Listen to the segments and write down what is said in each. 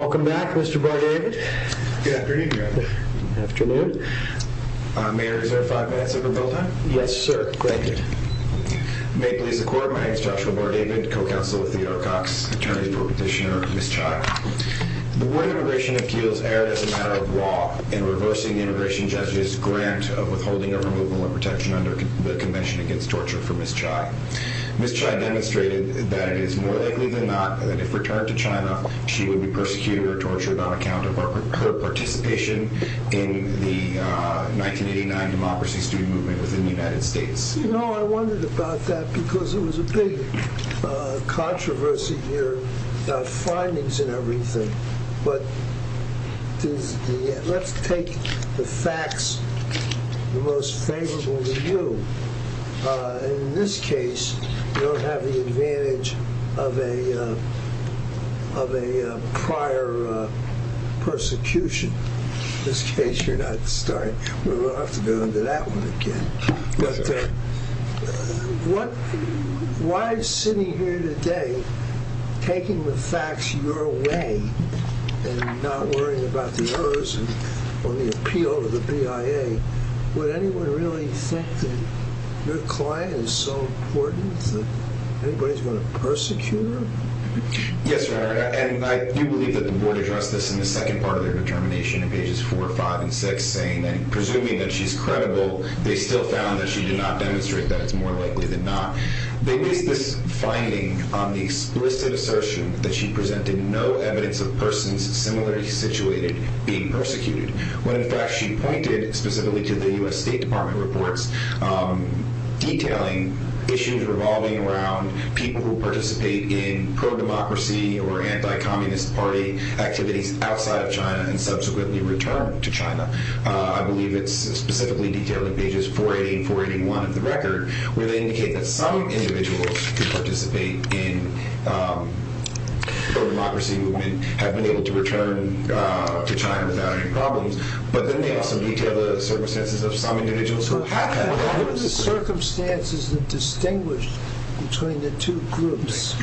Welcome back, Mr. Bar-David. Good afternoon, Your Honor. Good afternoon. May I reserve five minutes of rebuttal time? Yes, sir. Granted. May it please the Court, my name is Joshua Bar-David, co-counsel with Theodore Cox, attorney for Petitioner Ms. Chai. The word immigration appeals erred as a matter of law in reversing the immigration judge's grant of withholding or removal of protection under the Convention Against Torture for Ms. Chai. Ms. Chai demonstrated that it is more likely than not that if returned to China she would be persecuted or tortured on account of her participation in the 1989 democracy student movement within the United States. You know, I wondered about that because it was a big controversy here about findings and everything. But let's take the facts most favorable to you. In this case, you don't have the advantage of a prior persecution. In this case, you're not starting. We'll have to go into that one again. But why is sitting here today taking the facts your way and not worrying about the errors or the appeal of the BIA? Would anyone really think that your client is so important that anybody's going to persecute her? Yes, Your Honor, and I do believe that the board addressed this in the second part of their determination in pages 4, 5, and 6, saying that, presuming that she's credible, they still found that she did not demonstrate that it's more likely than not. They based this finding on the explicit assertion that she presented no evidence of persons similarly situated being persecuted when, in fact, she pointed specifically to the U.S. State Department reports detailing issues revolving around people who participate in pro-democracy or anti-communist party activities outside of China and subsequently return to China. I believe it's specifically detailed in pages 480 and 481 of the record where they indicate that some individuals who participate in the pro-democracy movement have been able to return to China without any problems, but then they also detail the circumstances of some individuals who have had problems. What are the circumstances that distinguish between the two groups?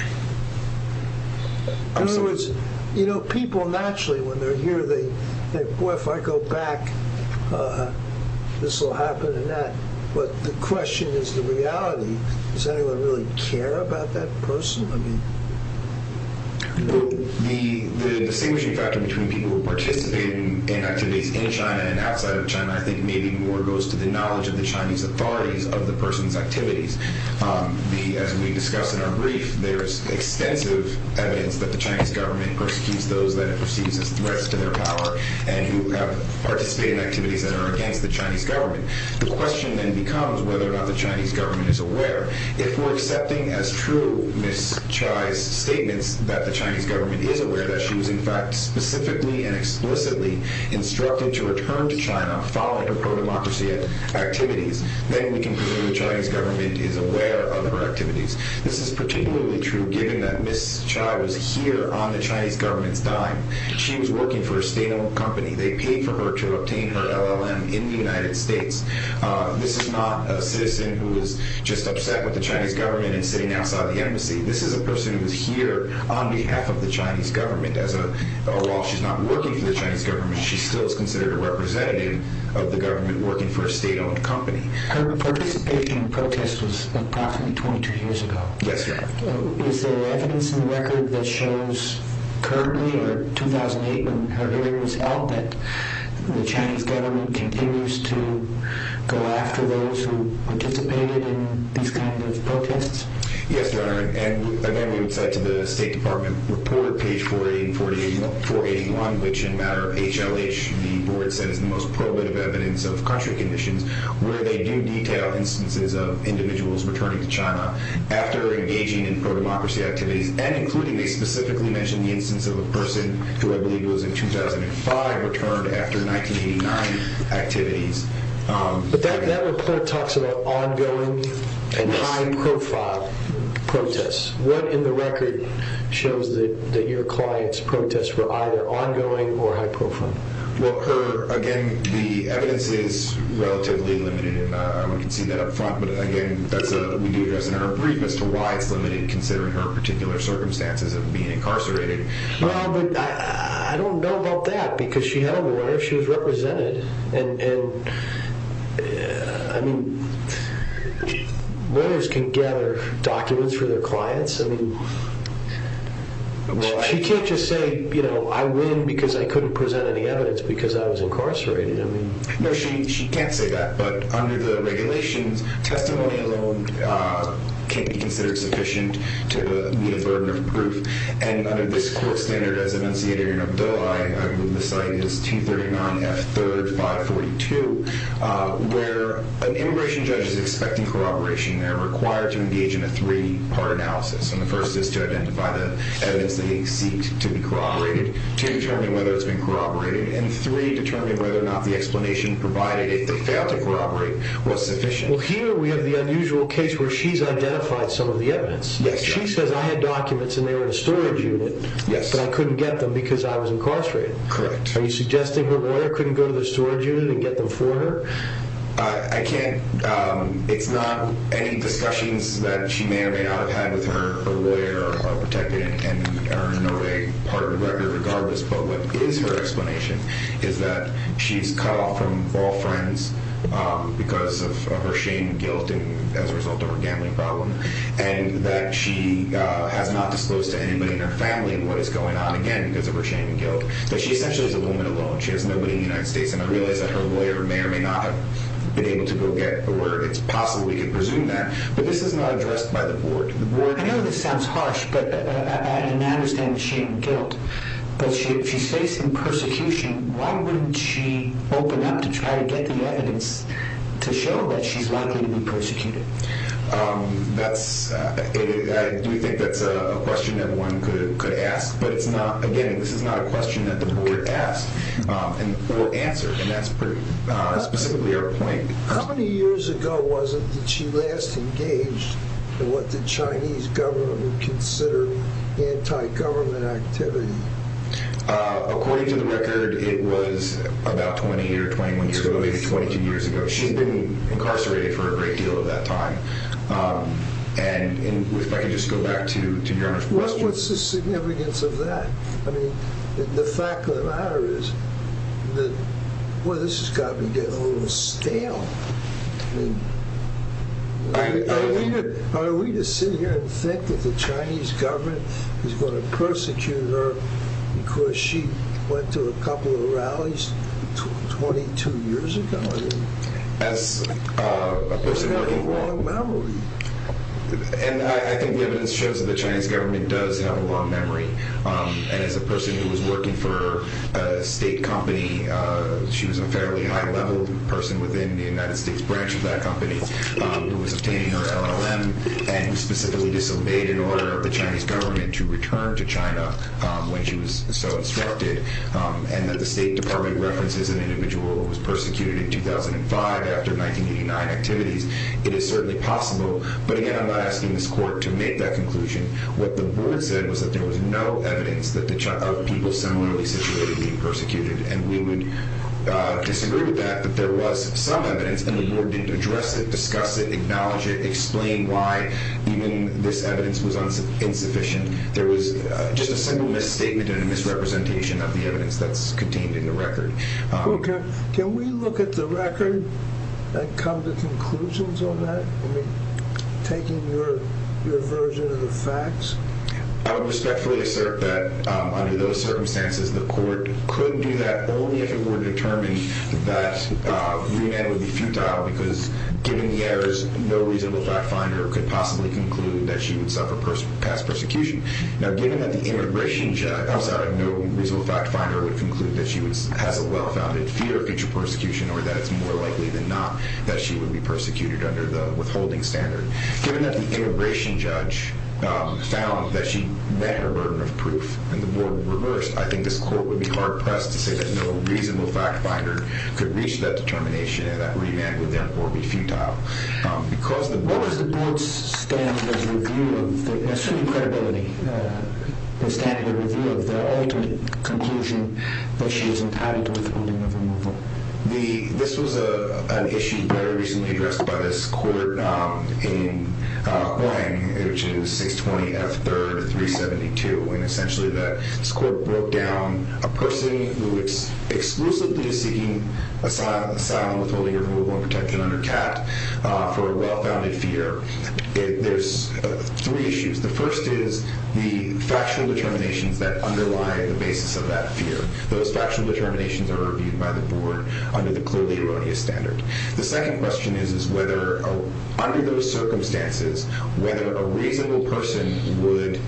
In other words, you know, people naturally, when they're here, they think, well, if I go back, this will happen and that, but the question is the reality. Does anyone really care about that person? Well, the distinguishing factor between people who participate in activities in China and outside of China, I think, maybe more goes to the knowledge of the Chinese authorities of the person's activities. As we discussed in our brief, there is extensive evidence that the Chinese government persecutes those that it perceives as threats to their power and who have participated in activities that are against the Chinese government. The question then becomes whether or not the Chinese government is aware. If we're accepting as true Ms. Chai's statements that the Chinese government is aware that she was, in fact, specifically and explicitly instructed to return to China following her pro-democracy activities, then we can presume the Chinese government is aware of her activities. This is particularly true given that Ms. Chai was here on the Chinese government's dime. She was working for a state-owned company. They paid for her to obtain her LLM in the United States. This is not a citizen who is just upset with the Chinese government and sitting outside the embassy. This is a person who is here on behalf of the Chinese government. While she's not working for the Chinese government, she still is considered a representative of the government working for a state-owned company. Her participation in protests was approximately 22 years ago. Yes, Your Honor. Is there evidence in the record that shows currently, or 2008 when her hearing was held, that the Chinese government continues to go after those who participated in these kinds of protests? Yes, Your Honor. And then we would cite to the State Department report, page 481, which in matter of HLH, the board says is the most probative evidence of country conditions where they do detail instances of individuals returning to China after engaging in pro-democracy activities, and including they specifically mention the instance of a person who I believe was in 2005 returned after 1989 activities. But that report talks about ongoing and high-profile protests. What in the record shows that your client's protests were either ongoing or high-profile? Well, again, the evidence is relatively limited. We can see that up front, but again, that's what we do address in our brief as to why it's limited considering her particular circumstances of being incarcerated. Well, but I don't know about that because she had a lawyer. She was represented. And I mean, lawyers can gather documents for their clients. I mean, she can't just say, you know, I win because I couldn't present any evidence because I was incarcerated. No, she can't say that. But under the regulations, testimony alone can't be considered sufficient to be a burden of proof. And under this court standard as enunciated in her bill, I believe the site is 239 F. 3rd 542, where an immigration judge is expecting corroboration. They're required to engage in a three-part analysis. And the first is to identify the evidence that they seek to be corroborated, to determine whether it's been corroborated, and three, determine whether or not the explanation provided, if they failed to corroborate, was sufficient. Well, here we have the unusual case where she's identified some of the evidence. She says, I had documents, and they were in a storage unit, but I couldn't get them because I was incarcerated. Correct. Are you suggesting her lawyer couldn't go to the storage unit and get them for her? I can't. It's not any discussions that she may or may not have had with her lawyer, or protected, and are in no way part of the record regardless. But what is her explanation is that she's cut off from all friends because of her shame and guilt, and as a result of her gambling problem. And that she has not disclosed to anybody in her family what is going on, again, because of her shame and guilt. That she essentially is a woman alone. She has nobody in the United States, and I realize that her lawyer may or may not have been able to go get her where it's possible we could presume that. But this is not addressed by the board. I know this sounds harsh, and I understand the shame and guilt. But if she's facing persecution, why wouldn't she open up to try to get the evidence to show that she's likely to be persecuted? I do think that's a question that one could ask. But, again, this is not a question that the board asked or answered, and that's specifically our point. How many years ago was it that she last engaged in what the Chinese government would consider anti-government activity? According to the record, it was about 20 or 21 years ago, maybe 22 years ago. But she had been incarcerated for a great deal of that time. And if I could just go back to Your Honor's question. What's the significance of that? I mean, the fact of the matter is that, boy, this has got to be getting a little stale. I mean, are we to sit here and think that the Chinese government is going to persecute her because she went to a couple of rallies 22 years ago? That's a person who has a long memory. And I think the evidence shows that the Chinese government does have a long memory. And as a person who was working for a state company, she was a fairly high-level person within the United States branch of that company who was obtaining her LLM and specifically disobeyed an order of the Chinese government to return to China when she was so instructed. And that the State Department references an individual who was persecuted in 2005 after 1989 activities. It is certainly possible. But again, I'm not asking this court to make that conclusion. What the board said was that there was no evidence of people similarly situated being persecuted. And we would disagree with that, that there was some evidence, and the board didn't address it, discuss it, acknowledge it, explain why even this evidence was insufficient. There was just a single misstatement and a misrepresentation of the evidence that's contained in the record. Okay. Can we look at the record and come to conclusions on that? I mean, taking your version of the facts? I would respectfully assert that under those circumstances, the court could do that only if it were determined that remand would be futile because given the errors, no reasonable fact finder could possibly conclude that she would suffer past persecution. Now, given that the immigration judge, outside of no reasonable fact finder, would conclude that she has a well-founded fear of future persecution or that it's more likely than not that she would be persecuted under the withholding standard. Given that the immigration judge found that she met her burden of proof and the board reversed, I think this court would be hard-pressed to say that no reasonable fact finder could reach that determination and that remand would, therefore, be futile. What was the board's standard of review of the ultimate conclusion that she is entitled to withholding of removal? This was an issue very recently addressed by this court in Huang, which is 620 F. 3rd, 372. This court broke down a person who is exclusively seeking asylum with withholding of removal and protection under CAT for a well-founded fear. There's three issues. The first is the factual determinations that underlie the basis of that fear. Those factual determinations are reviewed by the board under the clearly erroneous standard. The second question is whether, under those circumstances, whether a reasonable person would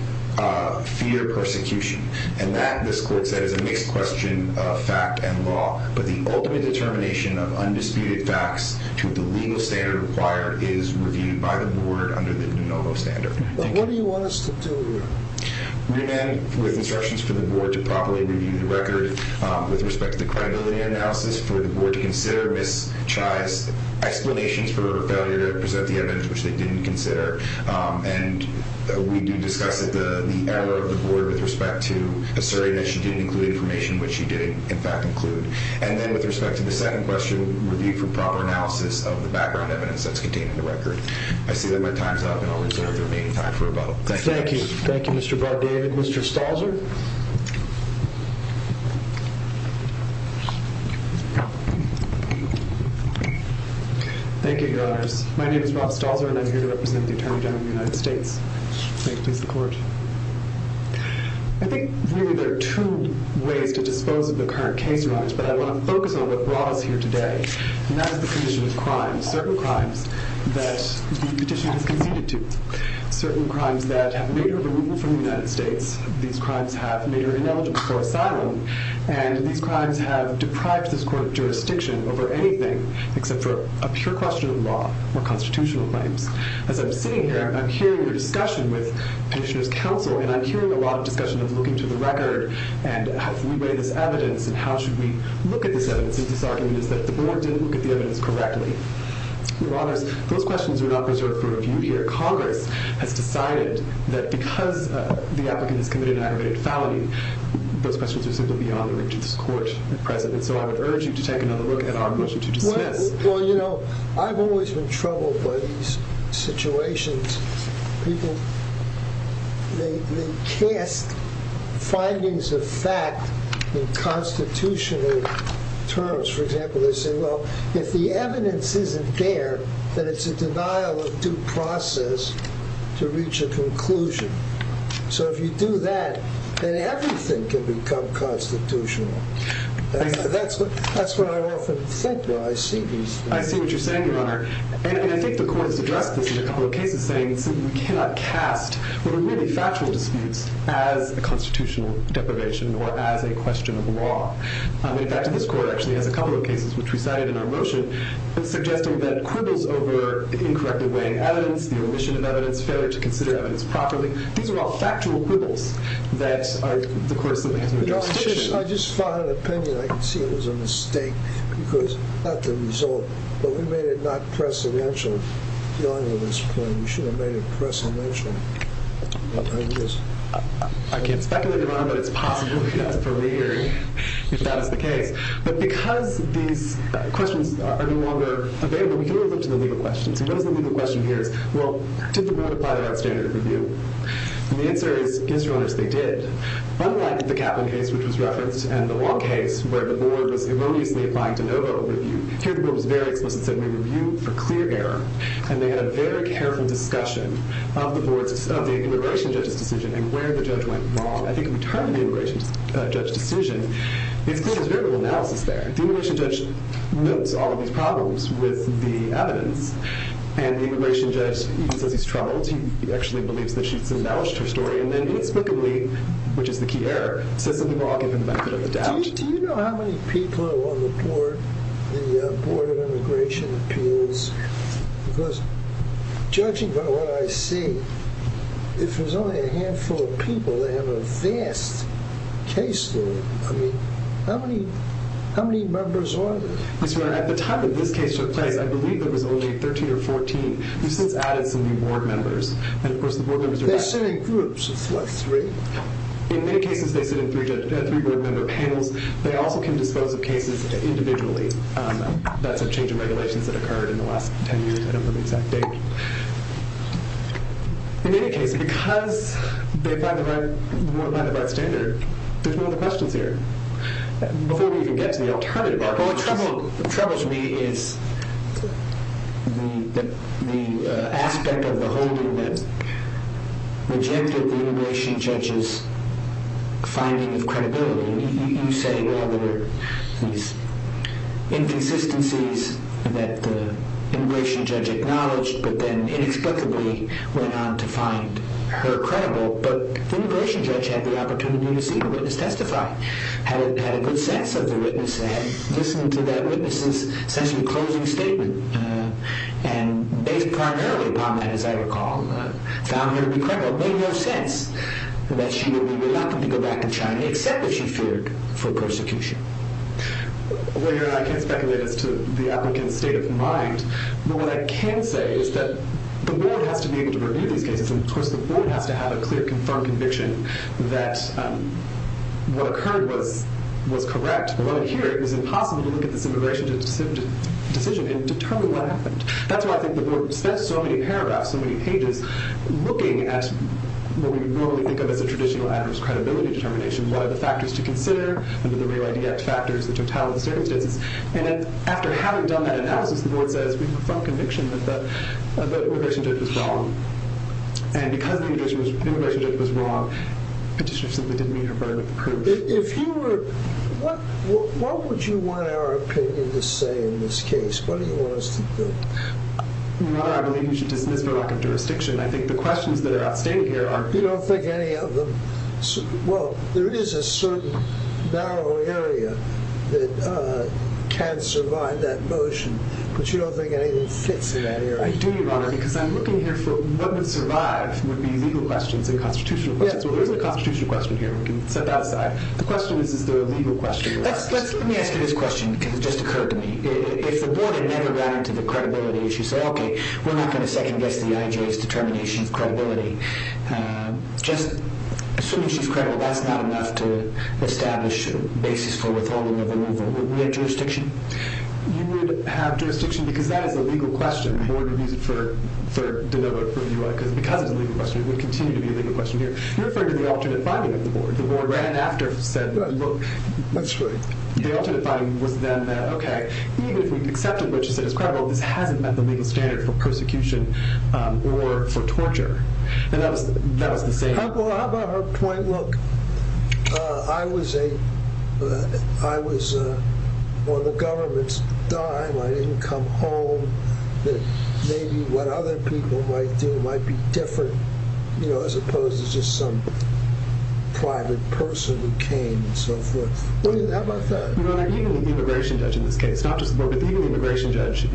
fear persecution. And that, this court said, is a mixed question of fact and law. But the ultimate determination of undisputed facts to the legal standard required is reviewed by the board under the de novo standard. But what do you want us to do here? Remand with instructions for the board to properly review the record with respect to the credibility analysis for the board to consider Ms. Chai's explanations for her failure to present the evidence, which they didn't consider. And we do discuss the error of the board with respect to asserting that she didn't include information, which she did, in fact, include. And then with respect to the second question, review for proper analysis of the background evidence that's contained in the record. I see that my time's up, and I'll reserve the remaining time for rebuttal. Thank you. Thank you, Mr. Bardavid. Mr. Stalzer? Thank you, Your Honors. My name is Rob Stalzer, and I'm here to represent the Attorney General of the United States. Thank you. Please, the court. I think, really, there are two ways to dispose of the current case, Your Honors. But I want to focus on what brought us here today, and that is the condition of crime, certain crimes that the petition has conceded to, certain crimes that have made her removal from the United States. These crimes have made her ineligible for asylum. And these crimes have deprived this court of jurisdiction over anything except for a pure question of law or constitutional claims. As I'm sitting here, I'm hearing the discussion with Petitioner's Counsel, and I'm hearing a lot of discussion of looking to the record and how we weigh this evidence and how should we look at this evidence in this argument is that the board didn't look at the evidence correctly. Your Honors, those questions are not reserved for review here. Congress has decided that because the applicant has committed an aggravated felony, those questions are simply beyond the reach of this court, President. So I would urge you to take another look at our motion to dismiss. Well, you know, I've always been troubled by these situations. People, they cast findings of fact in constitutional terms. For example, they say, well, if the evidence isn't there, then it's a denial of due process to reach a conclusion. So if you do that, then everything can become constitutional. That's what I often think when I see these things. I see what you're saying, Your Honor. And I think the court has addressed this in a couple of cases, saying we cannot cast what are really factual disputes as a constitutional deprivation or as a question of law. In fact, this court actually has a couple of cases, which we cited in our motion, suggesting that quibbles over the incorrectly weighing evidence, the omission of evidence, failure to consider evidence properly. These are all factual quibbles that the court simply has no jurisdiction. Your Honor, I just fought an opinion. I can see it was a mistake because of the result. But we made it not precedential, Your Honor, on this point. We should have made it precedential. I can't speculate, Your Honor, but it's possible. That's for me hearing if that is the case. But because these questions are no longer available, we can move on to the legal questions. And what is the legal question here? Well, did the board apply the right standard of review? And the answer is, yes, Your Honor, they did. Unlike the Kaplan case, which was referenced, and the Long case, where the board was erroneously applying de novo review, here the board was very explicit and said we review for clear error. And they had a very careful discussion of the immigration judge's decision and where the judge went wrong. I think in the term of the immigration judge's decision, it's clear there's variable analysis there. The immigration judge notes all of these problems with the evidence. And the immigration judge even says he's troubled. He actually believes that she's acknowledged her story. And then inexplicably, which is the key error, says that we will all give him the benefit of the doubt. Do you know how many people are on the board of immigration appeals? Because judging by what I see, if there's only a handful of people, they have a vast caseload. I mean, how many members are there? At the time that this case took place, I believe there was only 13 or 14. We've since added some new board members. They sit in groups of what, three? In many cases, they sit in three board member panels. They also can dispose of cases individually. That's a change in regulations that occurred in the last 10 years. I don't know the exact date. In any case, because they apply the right standard, there's no other questions here. Before we even get to the alternative, our only trouble to me is the aspect of the holding that rejected the immigration judge's finding of credibility. You say, well, there were these inconsistencies that the immigration judge acknowledged, but then inexplicably went on to find her credible. But the immigration judge had the opportunity to see the witness testify, had a good sense of the witness, had listened to that witness's essentially closing statement, and based primarily upon that, as I recall, found her credible, made no sense that she would be reluctant to go back to China, except that she feared for persecution. Well, you know, I can't speculate as to the applicant's state of mind. But what I can say is that the board has to be able to review these cases. And, of course, the board has to have a clear, confirmed conviction that what occurred was correct. But here, it was impossible to look at this immigration decision and determine what happened. That's why I think the board spent so many paragraphs, so many pages, looking at what we normally think of as a traditional adverse credibility determination. What are the factors to consider under the Real ID Act factors, the totality of the circumstances? And after having done that analysis, the board says, we have a firm conviction that the immigration judge was wrong. And because the immigration judge was wrong, petitioner simply didn't meet her burden of proof. If you were, what would you want our opinion to say in this case? What do you want us to do? Your Honor, I believe you should dismiss the lack of jurisdiction. I think the questions that are outstanding here are You don't think any of them? Well, there is a certain narrow area that can survive that motion. But you don't think anything fits in that area? I do, Your Honor, because I'm looking here for what would survive would be legal questions and constitutional questions. Well, there's a constitutional question here. We can set that aside. The question is, is there a legal question? Let me ask you this question because it just occurred to me. If the board had never ran into the credibility issue, say, okay, we're not going to second-guess the IJ's determination of credibility. Just assuming she's credible, that's not enough to establish a basis for withholding of the removal. Would we have jurisdiction? You would have jurisdiction because that is a legal question. The board would use it for delivery for you, because because it's a legal question, it would continue to be a legal question here. You're referring to the alternate finding of the board. The board ran after, said, look. The alternate finding was then that, okay, even if we accepted what she said is credible, this hasn't met the legal standard for persecution or for torture. And that was the same. How about her point? Look, I was on the government's dime. I didn't come home. Maybe what other people might do might be different, as opposed to just some private person who came and so forth. How about that? Even the immigration judge in this case, not just the board, but even the immigration judge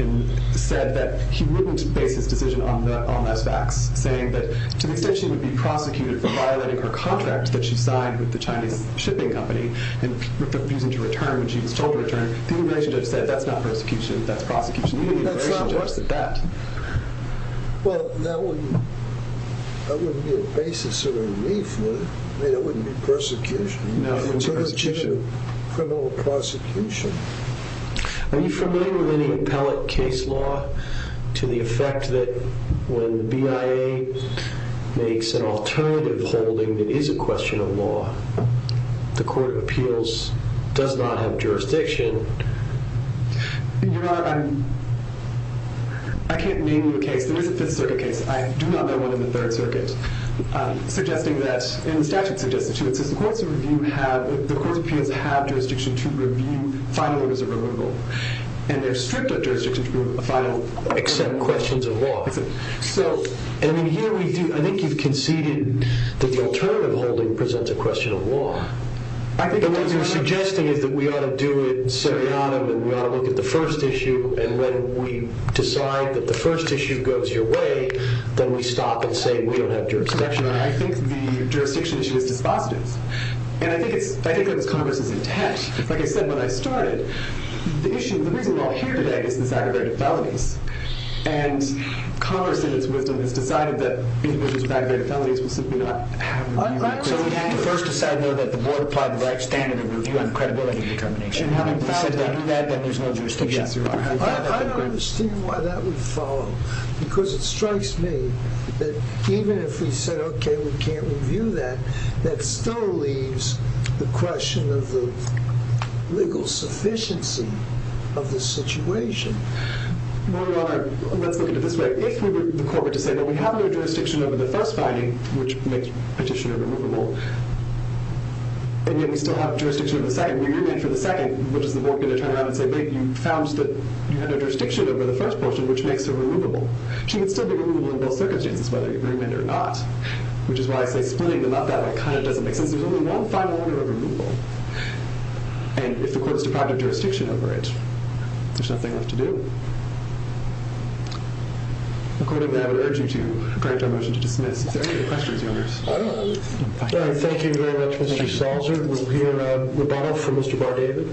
said that he wouldn't base his decision on less facts, saying that to the extent she would be prosecuted for violating her contract that she signed with the Chinese shipping company and refusing to return when she was told to return, the immigration judge said that's not persecution, that's prosecution. That's not what's at bat. Well, that wouldn't be a basis of relief, would it? I mean, it wouldn't be persecution. No, it wouldn't be persecution. It's a legitimate criminal prosecution. Are you familiar with any appellate case law to the effect that when the BIA makes an alternative holding that is a question of law, the court of appeals does not have jurisdiction? Your Honor, I can't name you a case. There is a Fifth Circuit case. I do not know one in the Third Circuit, suggesting that, and the statute suggests it, too. It says the court of appeals have jurisdiction to review final orders of removal, and there's stricter jurisdiction to review a final order of removal. Except questions of law. So, I mean, here we do. I think you've conceded that the alternative holding presents a question of law. What you're suggesting is that we ought to do it seriatim, and we ought to look at the first issue, and when we decide that the first issue goes your way, then we stop and say we don't have jurisdiction. I think the jurisdiction issue is dispositive, and I think that Congress is intent. Like I said when I started, the reason we're all here today is this aggravated felonies, and Congress, in its wisdom, has decided that individuals with aggravated felonies will simply not have removal. So we have to first decide whether the board applied the right standard of review on credibility determination. And having said that, then there's no jurisdiction. I don't understand why that would follow, because it strikes me that even if we said, okay, we can't review that, that still leaves the question of the legal sufficiency of the situation. Your Honor, let's look at it this way. If the court were to say, well, we have no jurisdiction over the first finding, which makes Petitioner removable, and yet we still have jurisdiction over the second, we agree with it for the second, what is the board going to turn around and say, wait, you found that you had no jurisdiction over the first portion, which makes her removable? She would still be removable in both circumstances, whether you agree with it or not, which is why I say splitting them up that way kind of doesn't make sense. There's only one final order of removal, and if the court is deprived of jurisdiction over it, there's nothing left to do. According to that, I would urge you to grant your motion to dismiss. Is there any other questions, Your Honor? All right. Thank you very much, Mr. Salzer. We'll hear a rebuttal from Mr. Bar-David.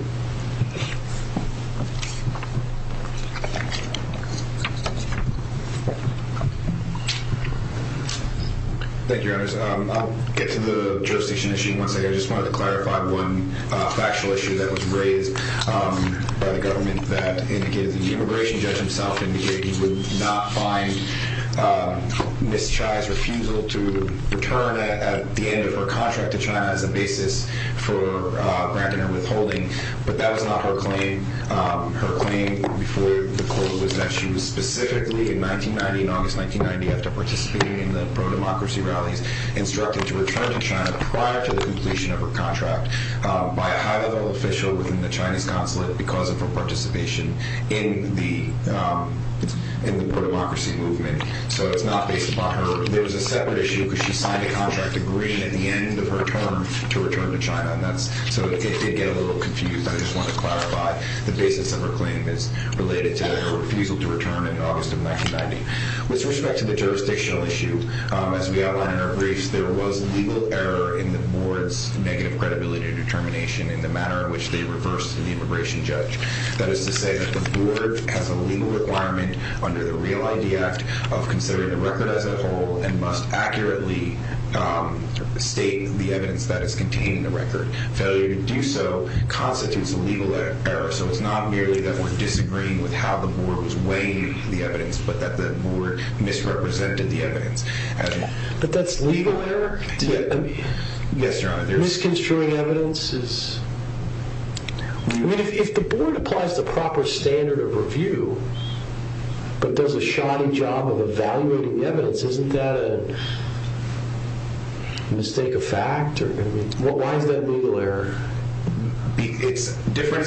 Thank you, Your Honor. I'll get to the jurisdiction issue in one second. I just wanted to clarify one factual issue that was raised by the government that indicated the immigration judge himself indicated he would not find Ms. Chai's refusal to return at the end of her contract to China as a basis for granting her withholding, but that was not her claim. Her claim before the court was that she was specifically in 1990, in August 1990, after participating in the pro-democracy rallies, instructed to return to China prior to the completion of her contract by a high-level official within the Chinese consulate because of her participation in the pro-democracy movement. So it's not based upon her. There was a separate issue because she signed a contract agreement at the end of her term to return to China, so it did get a little confused. I just wanted to clarify the basis of her claim as related to her refusal to return in August of 1990. With respect to the jurisdictional issue, as we outlined in our briefs, there was legal error in the board's negative credibility determination in the manner in which they reversed the immigration judge. That is to say that the board has a legal requirement under the Real ID Act of considering the record as a whole and must accurately state the evidence that is contained in the record. Failure to do so constitutes a legal error. So it's not merely that we're disagreeing with how the board was weighing the evidence but that the board misrepresented the evidence. But that's legal error? Yes, Your Honor. Misconstruing evidence is... I mean, if the board applies the proper standard of review but does a shoddy job of evaluating the evidence, isn't that a mistake of fact? I mean, why is that legal error? It's different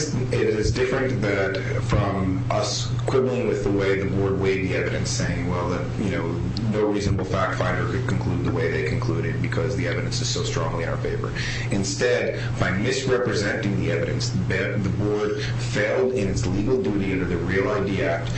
from us quibbling with the way the board weighed the evidence, saying, well, you know, no reasonable fact finder could conclude the way they concluded because the evidence is so strongly in our favor. Instead, by misrepresenting the evidence, the board failed in its legal duty under the Real ID Act.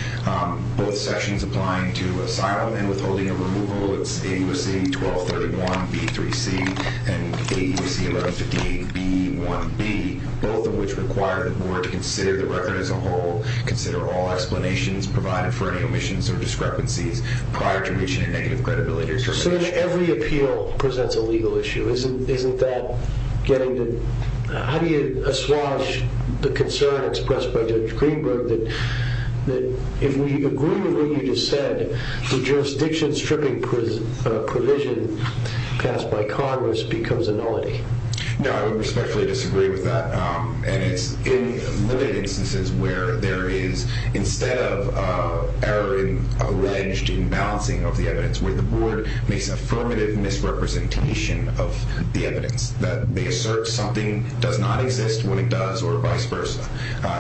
Both sections applying to asylum and withholding of removal, it's AUSC 1231B3C and AUSC 1158B1B, both of which require the board to consider the record as a whole, consider all explanations provided for any omissions or discrepancies prior to reaching a negative credibility determination. So if every appeal presents a legal issue, isn't that getting the... How do you assuage the concern expressed by Judge Greenberg that if we agree with what you just said, the jurisdiction stripping provision passed by Congress becomes a nullity? No, I would respectfully disagree with that. And it's in limited instances where there is, instead of error in alleged imbalancing of the evidence, where the board makes affirmative misrepresentation of the evidence, that they assert something does not exist when it does or vice versa.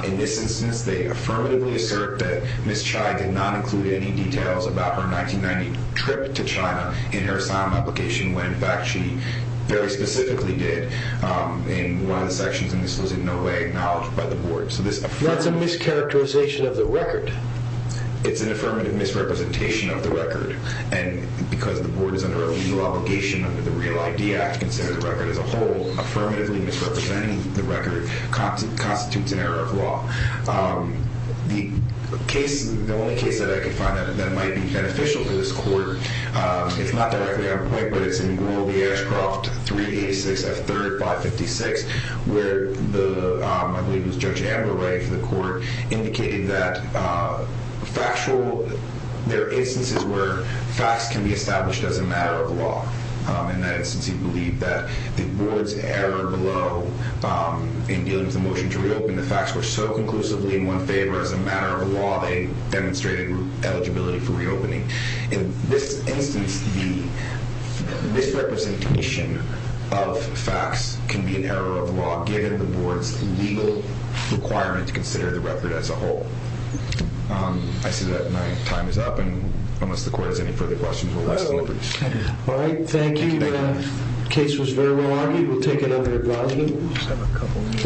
In this instance, they affirmatively assert that Ms. Chai did not include any details about her 1990 trip to China in her asylum application when, in fact, she very specifically did in one of the sections, and this was in no way acknowledged by the board. So this affirmative... That's a mischaracterization of the record. It's an affirmative misrepresentation of the record. And because the board is under a legal obligation under the Real ID Act to consider the record as a whole, affirmatively misrepresenting the record constitutes an error of law. The case, the only case that I could find that might be beneficial to this court, it's not directly on the plate, but it's in Rule V. Ashcroft 386 F. 3rd 556, where the, I believe it was Judge Amber writing for the court, indicated that factual, there are instances where facts can be established as a matter of law. In that instance, he believed that the board's error below in dealing with the motion to reopen the facts were so conclusively in one's favor as a matter of law, they demonstrated eligibility for reopening. In this instance, the misrepresentation of facts can be an error of law given the board's legal requirement to consider the record as a whole. I see that my time is up, and unless the court has any further questions, we'll let the board proceed. All right, thank you. The case was very well argued. We'll take another evaluation.